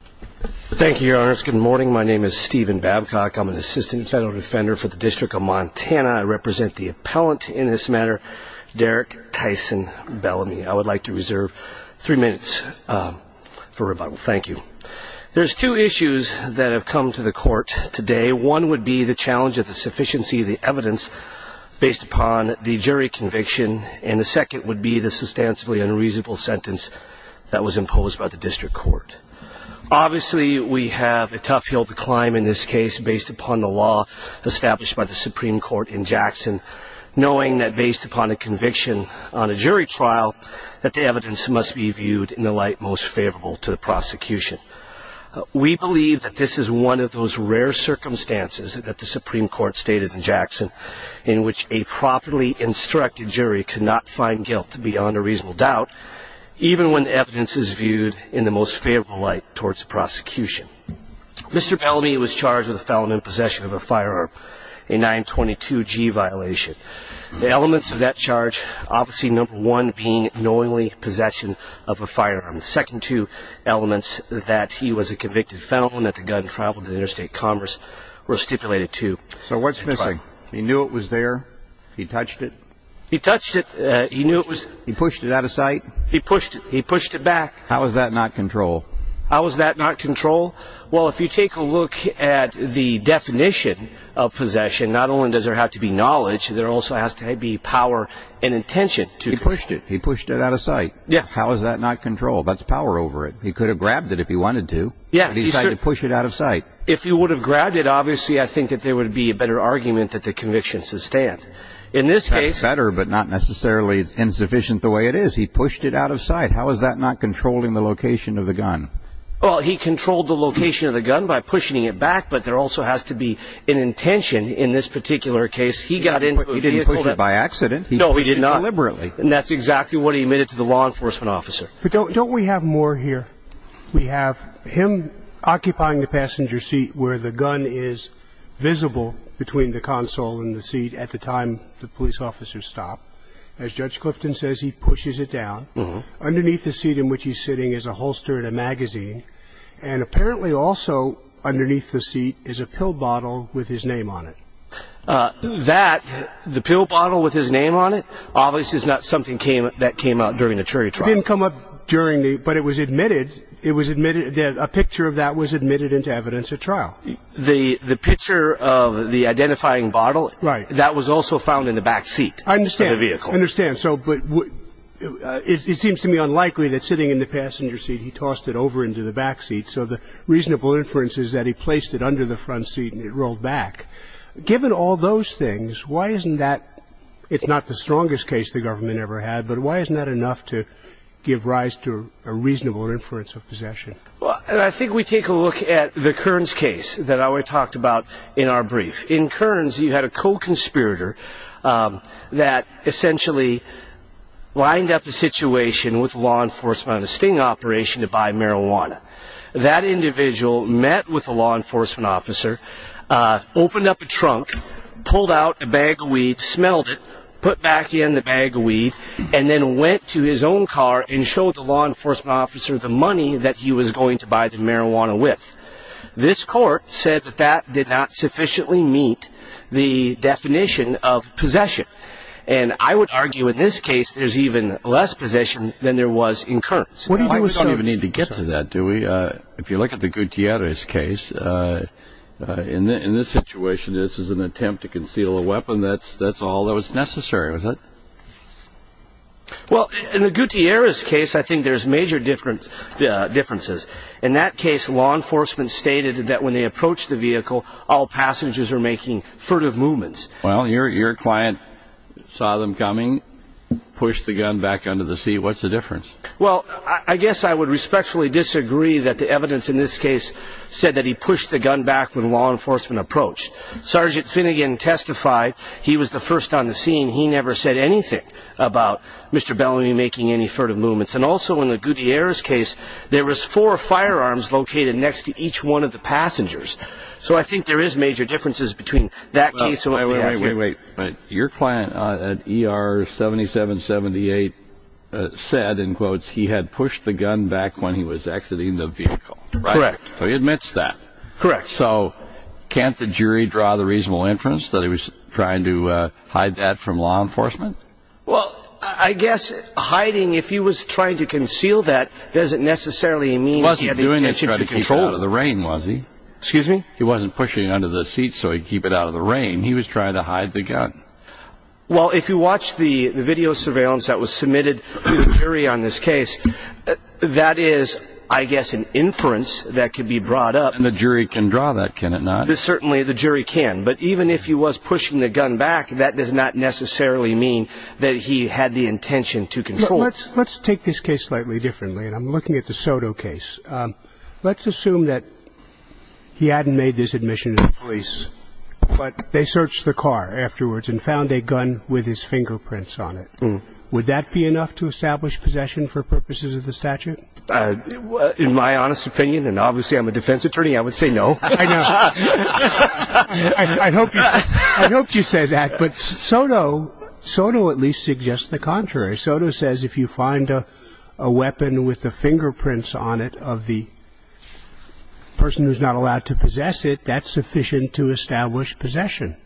Thank you, Your Honor. It's good morning. My name is Stephen Babcock. I'm an Assistant Federal Defender for the District of Montana. I represent the appellant in this matter, Derek Tyson Bellamy. I would like to reserve three minutes for rebuttal. Thank you. There's two issues that have come to the court today. One would be the challenge of the sufficiency of the evidence based upon the jury conviction, and the second would be the substantially unreasonable sentence that was imposed by the district court. Obviously, we have a tough hill to climb in this case based upon the law established by the Supreme Court in Jackson, knowing that based upon a conviction on a jury trial, that the evidence must be viewed in the light most favorable to the prosecution. We believe that this is one of those rare circumstances that the Supreme Court stated in Jackson, in which a properly instructed jury could not find guilt beyond a reasonable doubt, even when the evidence is viewed in the most favorable light towards the prosecution. Mr. Bellamy was charged with a felon in possession of a firearm, a 922-G violation. The elements of that charge, obviously, number one being knowingly possession of a firearm. The second two elements, that he was a convicted felon, that the gun traveled to interstate commerce, were stipulated to. So what's missing? He knew it was there? He touched it? He touched it. He knew it was... He pushed it out of sight? He pushed it. He pushed it back. How is that not control? How is that not control? Well, if you take a look at the definition of possession, not only does there have to be knowledge, there also has to be power and intention to... He pushed it. He pushed it out of sight. Yeah. How is that not control? That's power over it. He could have grabbed it if he wanted to. Yeah. He decided to push it out of sight. If he would have grabbed it, obviously, I think that there would be a better argument that the conviction should stand. In this case... ...it's insufficient the way it is. He pushed it out of sight. How is that not controlling the location of the gun? Well, he controlled the location of the gun by pushing it back, but there also has to be an intention in this particular case. He got into a vehicle that... He didn't push it by accident. No, he did not. He pushed it deliberately. And that's exactly what he admitted to the law enforcement officer. But don't we have more here? We have him occupying the passenger seat where the gun is visible between the console and the seat at the time the police officer stopped. As Judge Clifton says, he pushes it down. Underneath the seat in which he's sitting is a holster and a magazine, and apparently also underneath the seat is a pill bottle with his name on it. That, the pill bottle with his name on it, obviously is not something that came out during the chariot ride. It didn't come up during the... But it was admitted. It was admitted... A picture of that was admitted into evidence at trial. The picture of the identifying bottle, that was also found in the back seat of the vehicle. I understand. I understand. So, but... It seems to me unlikely that sitting in the passenger seat, he tossed it over into the back seat. So the reasonable inference is that he placed it under the front seat and it rolled back. Given all those things, why isn't that... It's not the strongest case the government ever had, but why isn't that enough to give rise to a reasonable inference of possession? Well, I think we take a look at the Kearns case that I already talked about in our brief. In Kearns, you had a co-conspirator that essentially lined up the situation with law enforcement on a sting operation to buy marijuana. That individual met with a law enforcement officer, opened up a trunk, pulled out a bag of weed, smelled it, put back in the bag of weed, and then went to his own car and showed the law enforcement officer the money that he was going to buy the marijuana with. This court said that that did not sufficiently meet the definition of possession. And I would argue, in this case, there's even less possession than there was in Kearns. We don't even need to get to that, do we? If you look at the Gutierrez case, in this situation, this is an attempt to conceal a weapon. That's all that was necessary, was it? Well, in the Gutierrez case, I think there's major differences. In that case, law enforcement stated that when they approached the vehicle, all passengers were making furtive movements. Well, your client saw them coming, pushed the gun back under the seat. What's the difference? Well, I guess I would respectfully disagree that the evidence in this case said that he pushed the gun back when law enforcement approached. Sergeant Finnegan testified. He was the first on the scene. He never said anything about Mr. Bellamy making any furtive movements. And also, in the Gutierrez case, there was four firearms located next to each one of the passengers. So I think there is major differences between that case and what we have here. Wait, wait, wait. Your client at ER 7778 said, in quotes, he had pushed the gun back when he was exiting the vehicle. Correct. So he admits that. Correct. So can't the jury draw the reasonable inference that he was trying to hide that from law enforcement? Well, I guess hiding, if he was trying to conceal that, doesn't necessarily mean he had the intention to control it. He wasn't doing it to keep it out of the rain, was he? Excuse me? He wasn't pushing it under the seat so he could keep it out of the rain. He was trying to hide the gun. Well, if you watch the video surveillance that was submitted to the jury on this case, that is, I guess, an inference that could be brought up. And the jury can draw that, can it not? Certainly, the jury can. But even if he was pushing the gun back, that does not necessarily mean that he had the intention to control it. Let's take this case slightly differently, and I'm looking at the Soto case. Let's assume that he hadn't made this admission to the police, but they searched the car afterwards and found a gun with his fingerprints on it. Would that be enough to establish possession for purposes of the statute? In my honest opinion, and obviously I'm a defense attorney, I would say no. I know. I hope you say that. But Soto at least suggests the contrary. Soto says if you find a weapon with the fingerprints on it of the person who's not allowed to possess it, that's sufficient to establish possession.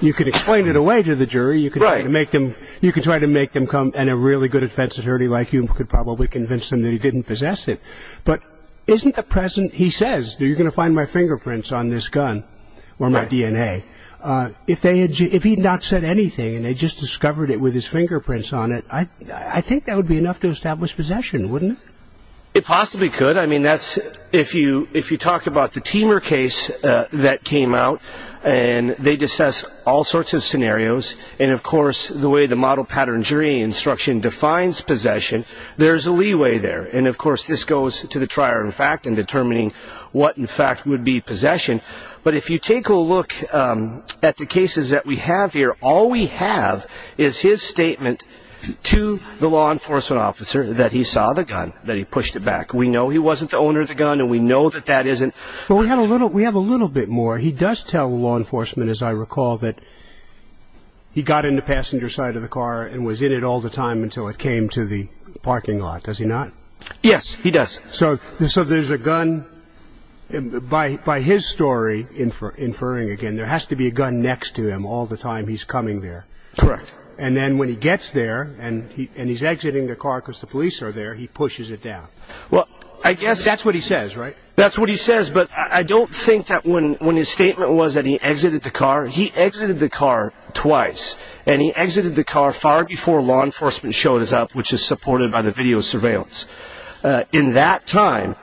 You could explain it away to the jury. You could try to make them come, and a really good defense attorney like you could probably convince them that he didn't possess it. He says, you're going to find my fingerprints on this gun, or my DNA. If he had not said anything, and they just discovered it with his fingerprints on it, I think that would be enough to establish possession, wouldn't it? It possibly could. I mean, if you talk about the Teamer case that came out, and they discussed all sorts of scenarios, and of course the way the model pattern jury instruction defines possession, there's a leeway there. And of course this goes to the trier of fact in determining what in fact would be possession. But if you take a look at the cases that we have here, all we have is his statement to the law enforcement officer that he saw the gun, that he pushed it back. We know he wasn't the owner of the gun, and we know that that isn't. But we have a little bit more. He does tell law enforcement, as I recall, that he got in the passenger side of the car and was in it all the time until it came to the parking lot. Does he not? Yes, he does. So there's a gun. By his story, inferring again, there has to be a gun next to him all the time he's coming there. Correct. And then when he gets there, and he's exiting the car because the police are there, he pushes it down. That's what he says, right? His statement was that he exited the car. He exited the car twice, and he exited the car far before law enforcement showed up, which is supported by the video surveillance. In that time,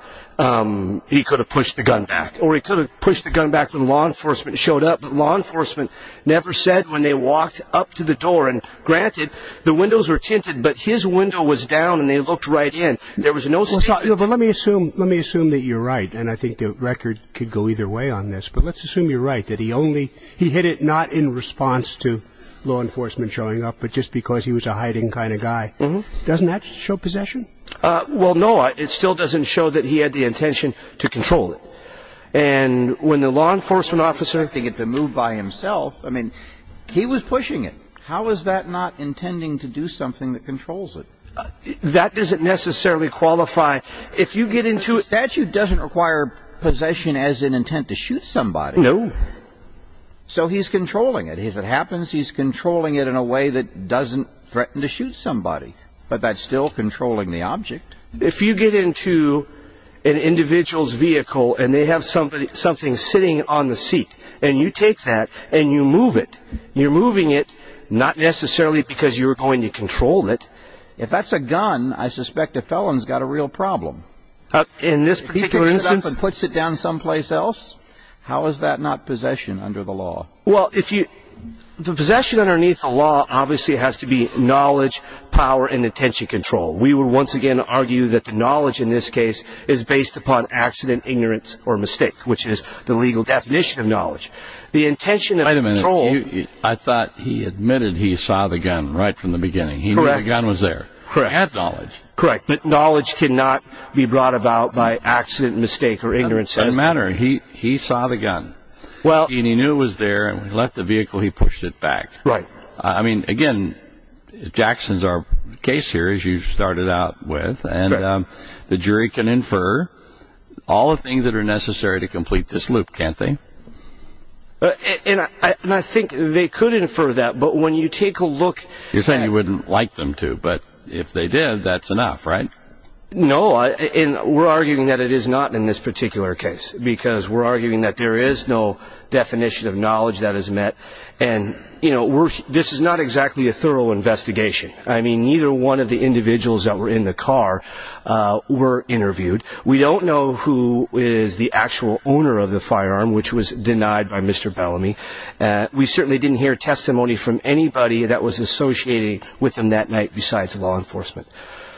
he could have pushed the gun back, or he could have pushed the gun back when law enforcement showed up. But law enforcement never said when they walked up to the door. And granted, the windows were tinted, but his window was down and they looked right in. But let me assume that you're right, and I think the record could go either way on this, but let's assume you're right, that he hit it not in response to law enforcement showing up, but just because he was a hiding kind of guy. Doesn't that show possession? Well, no. It still doesn't show that he had the intention to control it. And when the law enforcement officer was expecting it to move by himself, I mean, he was pushing it. How is that not intending to do something that controls it? That doesn't necessarily qualify. If you get into it, that doesn't require possession as an intent to shoot somebody. No. So he's controlling it. As it happens, he's controlling it in a way that doesn't threaten to shoot somebody, but that's still controlling the object. If you get into an individual's vehicle and they have something sitting on the seat, and you take that and you move it, you're moving it not necessarily because you're going to control it. If that's a gun, I suspect a felon's got a real problem. If he picks it up and puts it down someplace else, how is that not possession under the law? Well, the possession underneath the law obviously has to be knowledge, power, and intention control. We would once again argue that the knowledge in this case is based upon accident, ignorance, or mistake, which is the legal definition of knowledge. Wait a minute. I thought he admitted he saw the gun right from the beginning. He knew the gun was there. Correct. He had knowledge. Correct. But knowledge cannot be brought about by accident, mistake, or ignorance. It doesn't matter. He saw the gun, and he knew it was there, and when he left the vehicle, he pushed it back. Right. I mean, again, Jackson's our case here, as you started out with, and the jury can infer all the things that are necessary to complete this loop, can't they? And I think they could infer that, but when you take a look... You're saying you wouldn't like them to, but if they did, that's enough, right? No, and we're arguing that it is not in this particular case because we're arguing that there is no definition of knowledge that is met, and this is not exactly a thorough investigation. I mean, neither one of the individuals that were in the car were interviewed. We don't know who is the actual owner of the firearm, which was denied by Mr. Bellamy. We certainly didn't hear testimony from anybody that was associated with him that night besides law enforcement.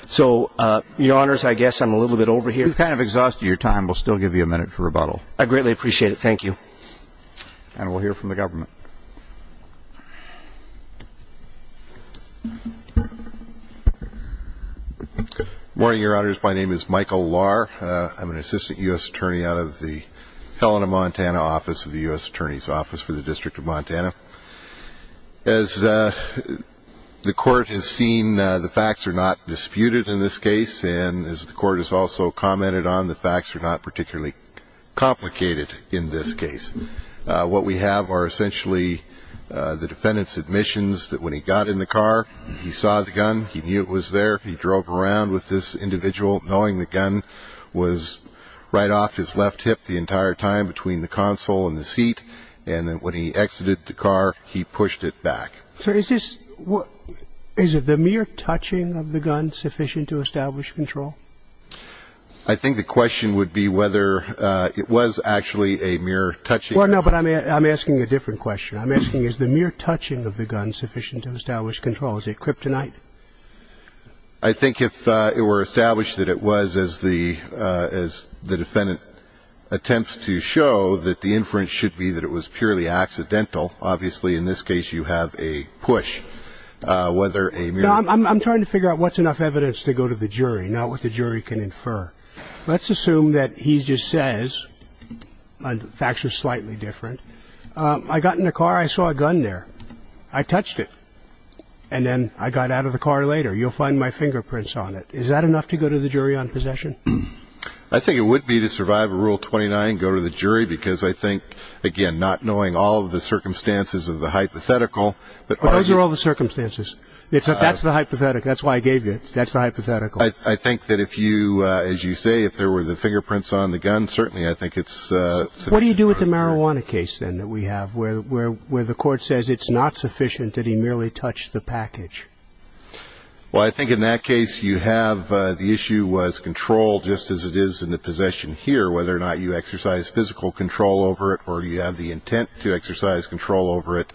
So, Your Honors, I guess I'm a little bit over here. You've kind of exhausted your time. We'll still give you a minute for rebuttal. I greatly appreciate it. Thank you. And we'll hear from the government. Good morning, Your Honors. My name is Michael Lahr. I'm an assistant U.S. attorney out of the Helena, Montana, office, the U.S. Attorney's Office for the District of Montana. As the Court has seen, the facts are not disputed in this case, and as the Court has also commented on, the facts are not particularly complicated in this case. What we have are essentially the defendant's admissions that when he got in the car, he saw the gun, he knew it was there, he drove around with this individual, knowing the gun was right off his left hip the entire time between the console and the seat, and then when he exited the car, he pushed it back. Sir, is it the mere touching of the gun sufficient to establish control? I think the question would be whether it was actually a mere touching. Well, no, but I'm asking a different question. I'm asking is the mere touching of the gun sufficient to establish control? Is it kryptonite? I think if it were established that it was, as the defendant attempts to show, that the inference should be that it was purely accidental. Obviously, in this case, you have a push. I'm trying to figure out what's enough evidence to go to the jury, not what the jury can infer. Let's assume that he just says, and the facts are slightly different, I got in the car, I saw a gun there, I touched it, and then I got out of the car later. You'll find my fingerprints on it. Is that enough to go to the jury on possession? I think it would be to survive a Rule 29, go to the jury, because I think, again, not knowing all of the circumstances of the hypothetical. But those are all the circumstances. That's the hypothetical. That's why I gave you it. That's the hypothetical. I think that if you, as you say, if there were the fingerprints on the gun, certainly I think it's sufficient. What do you do with the marijuana case, then, that we have, where the court says it's not sufficient, that he merely touched the package? Well, I think in that case, you have the issue was control, just as it is in the possession here, whether or not you exercise physical control over it or you have the intent to exercise control over it.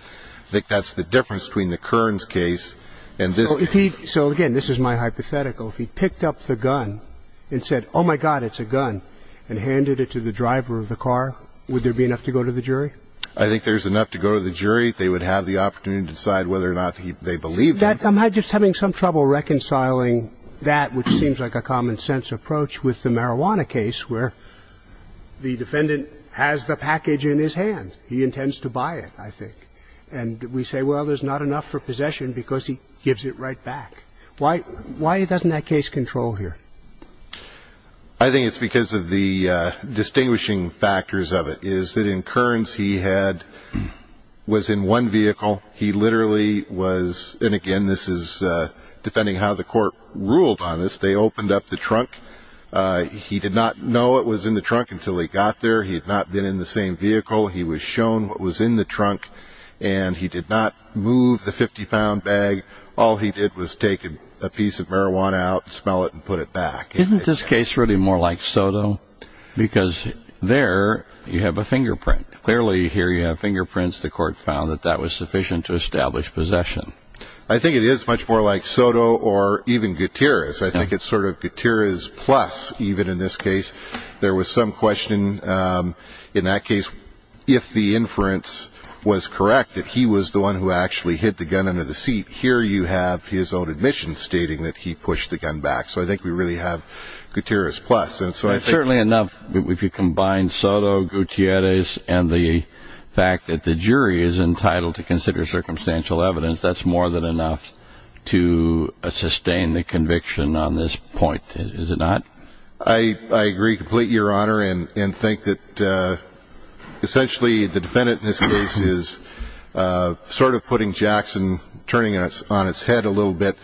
I think that's the difference between the Kearns case and this case. So, again, this is my hypothetical. If he picked up the gun and said, oh, my God, it's a gun, and handed it to the driver of the car, would there be enough to go to the jury? I think there's enough to go to the jury. They would have the opportunity to decide whether or not they believed him. I'm just having some trouble reconciling that, which seems like a common-sense approach, with the marijuana case, where the defendant has the package in his hand. He intends to buy it, I think. And we say, well, there's not enough for possession because he gives it right back. Why doesn't that case control here? I think it's because of the distinguishing factors of it, is that in Kearns, he was in one vehicle. He literally was, and again, this is defending how the court ruled on this, they opened up the trunk. He did not know what was in the trunk until he got there. He had not been in the same vehicle. He was shown what was in the trunk, and he did not move the 50-pound bag. All he did was take a piece of marijuana out, smell it, and put it back. Isn't this case really more like Soto? Because there you have a fingerprint. Clearly here you have fingerprints. The court found that that was sufficient to establish possession. I think it is much more like Soto or even Gutierrez. I think it's sort of Gutierrez plus, even in this case. There was some question in that case if the inference was correct, that he was the one who actually hit the gun under the seat. Here you have his own admission stating that he pushed the gun back. So I think we really have Gutierrez plus. Certainly enough, if you combine Soto, Gutierrez, and the fact that the jury is entitled to consider circumstantial evidence, that's more than enough to sustain the conviction on this point, is it not? I agree completely, Your Honor, and think that essentially the defendant in this case is sort of putting Jackson, turning it on its head a little bit.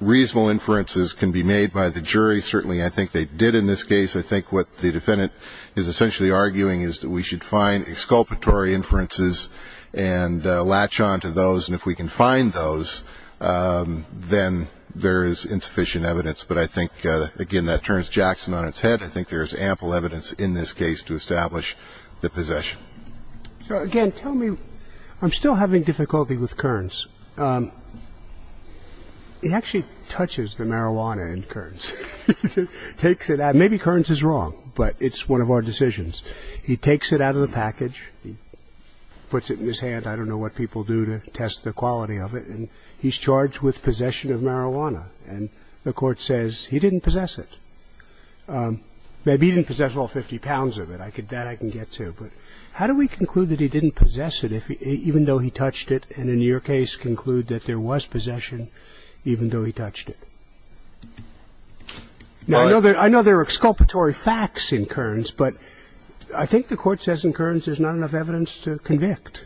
Reasonable inferences can be made by the jury. Certainly I think they did in this case. I think what the defendant is essentially arguing is that we should find exculpatory inferences and latch on to those. And if we can find those, then there is insufficient evidence. But I think, again, that turns Jackson on its head. I think there is ample evidence in this case to establish the possession. So, again, tell me, I'm still having difficulty with Kearns. He actually touches the marijuana in Kearns, takes it out. Maybe Kearns is wrong, but it's one of our decisions. He takes it out of the package, puts it in his hand. I don't know what people do to test the quality of it. And he's charged with possession of marijuana. And the Court says he didn't possess it. Maybe he didn't possess all 50 pounds of it. That I can get to. But how do we conclude that he didn't possess it even though he touched it and in your case conclude that there was possession even though he touched it? Now, I know there are exculpatory facts in Kearns, but I think the Court says in Kearns there's not enough evidence to convict,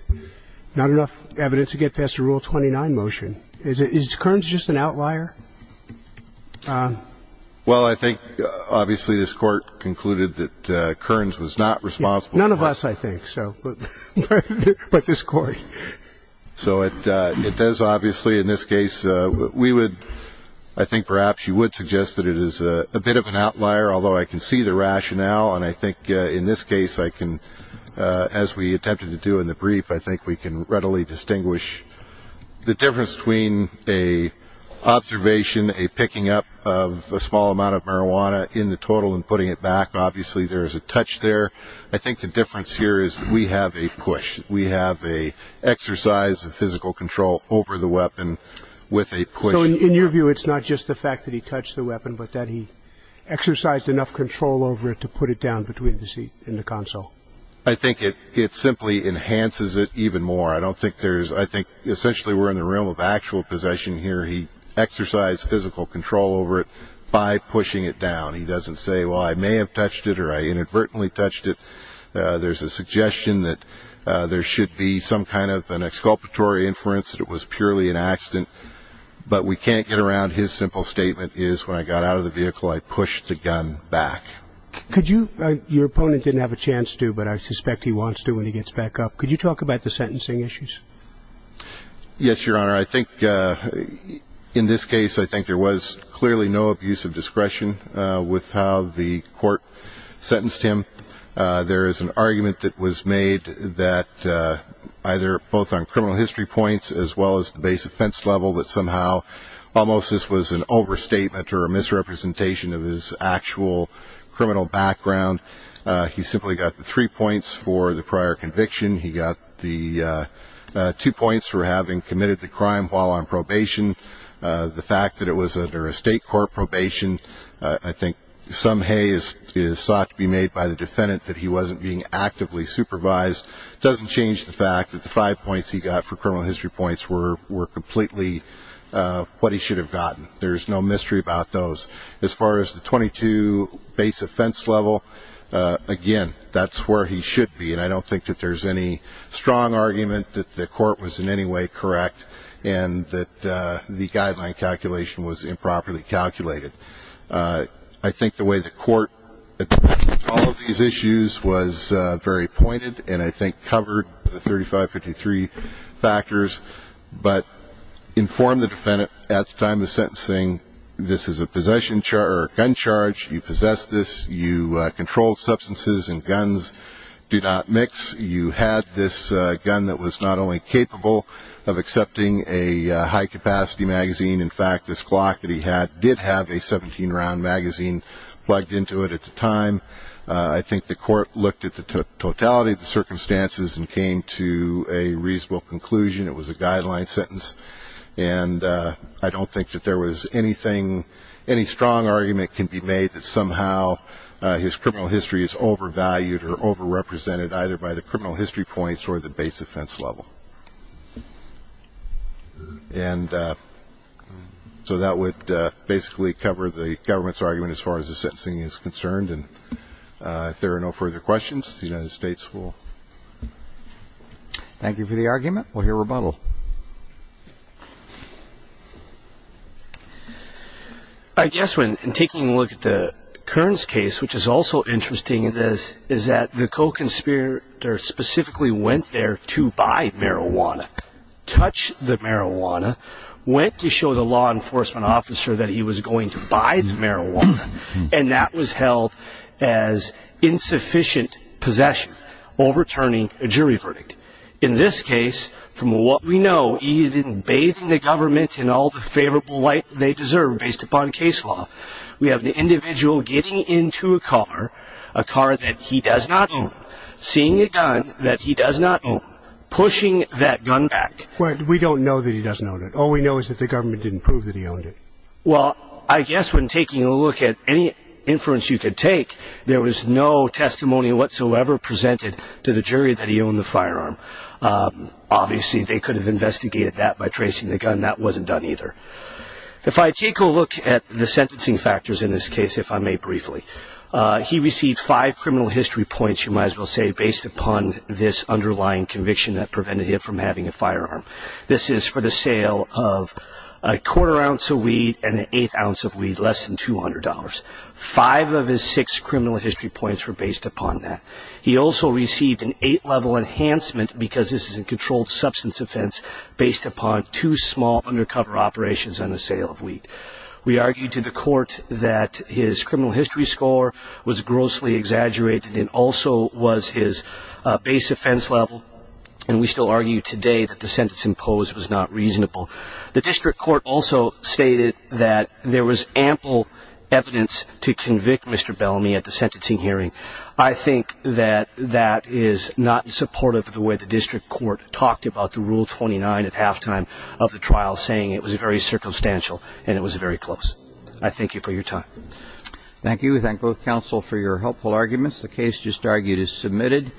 not enough evidence to get past the Rule 29 motion. Is Kearns just an outlier? Well, I think, obviously, this Court concluded that Kearns was not responsible. None of us, I think, but this Court. So it does, obviously, in this case, we would, I think perhaps you would suggest that it is a bit of an outlier, although I can see the rationale. And I think in this case I can, as we attempted to do in the brief, I think we can readily distinguish the difference between an observation, a picking up of a small amount of marijuana in the total and putting it back. Obviously, there is a touch there. I think the difference here is we have a push. We have an exercise of physical control over the weapon with a push. So in your view, it's not just the fact that he touched the weapon, but that he exercised enough control over it to put it down between the seat and the console? I think it simply enhances it even more. I think essentially we're in the realm of actual possession here. He exercised physical control over it by pushing it down. He doesn't say, well, I may have touched it or I inadvertently touched it. There's a suggestion that there should be some kind of an exculpatory inference that it was purely an accident, but we can't get around his simple statement is when I got out of the vehicle, I pushed the gun back. Your opponent didn't have a chance to, but I suspect he wants to when he gets back up. Could you talk about the sentencing issues? Yes, Your Honor. I think in this case I think there was clearly no abuse of discretion with how the court sentenced him. There is an argument that was made that either both on criminal history points as well as the base offense level that somehow almost this was an overstatement or a misrepresentation of his actual criminal background. He simply got the three points for the prior conviction. He got the two points for having committed the crime while on probation. The fact that it was under a state court probation, I think some hay is sought to be made by the defendant that he wasn't being actively supervised. It doesn't change the fact that the five points he got for criminal history points were completely what he should have gotten. There's no mystery about those. As far as the 22 base offense level, again, that's where he should be, and I don't think that there's any strong argument that the court was in any way correct I think the way the court addressed all of these issues was very pointed and I think covered the 3553 factors, but informed the defendant at the time of sentencing, this is a gun charge, you possess this, you control substances, and guns do not mix. You had this gun that was not only capable of accepting a high-capacity magazine. In fact, this Glock that he had did have a 17-round magazine plugged into it at the time. I think the court looked at the totality of the circumstances and came to a reasonable conclusion. It was a guideline sentence, and I don't think that there was anything, any strong argument can be made that somehow his criminal history is overvalued or overrepresented either by the criminal history points or the base offense level. And so that would basically cover the government's argument as far as the sentencing is concerned, and if there are no further questions, the United States will. Thank you for the argument. We'll hear rebuttal. I guess when taking a look at the Kearns case, which is also interesting, is that the co-conspirator specifically went there to buy marijuana, touched the marijuana, went to show the law enforcement officer that he was going to buy the marijuana, and that was held as insufficient possession, overturning a jury verdict. In this case, from what we know, he didn't bathe the government in all the favorable light they deserve based upon case law. We have the individual getting into a car, a car that he does not own, seeing a gun that he does not own, pushing that gun back. We don't know that he doesn't own it. All we know is that the government didn't prove that he owned it. Well, I guess when taking a look at any inference you could take, there was no testimony whatsoever presented to the jury that he owned the firearm. Obviously, they could have investigated that by tracing the gun. That wasn't done either. If I take a look at the sentencing factors in this case, if I may briefly, he received five criminal history points, you might as well say, based upon this underlying conviction that prevented him from having a firearm. This is for the sale of a quarter ounce of weed and an eighth ounce of weed, less than $200. Five of his six criminal history points were based upon that. He also received an eight-level enhancement, because this is a controlled substance offense, based upon two small undercover operations on the sale of weed. We argued to the court that his criminal history score was grossly exaggerated and also was his base offense level, and we still argue today that the sentence imposed was not reasonable. The district court also stated that there was ample evidence to convict Mr. Bellamy at the sentencing hearing. I think that that is not supportive of the way the district court talked about the Rule 29 at halftime of the trial, saying it was very circumstantial and it was very close. I thank you for your time. Thank you. We thank both counsel for your helpful arguments. The case just argued is submitted.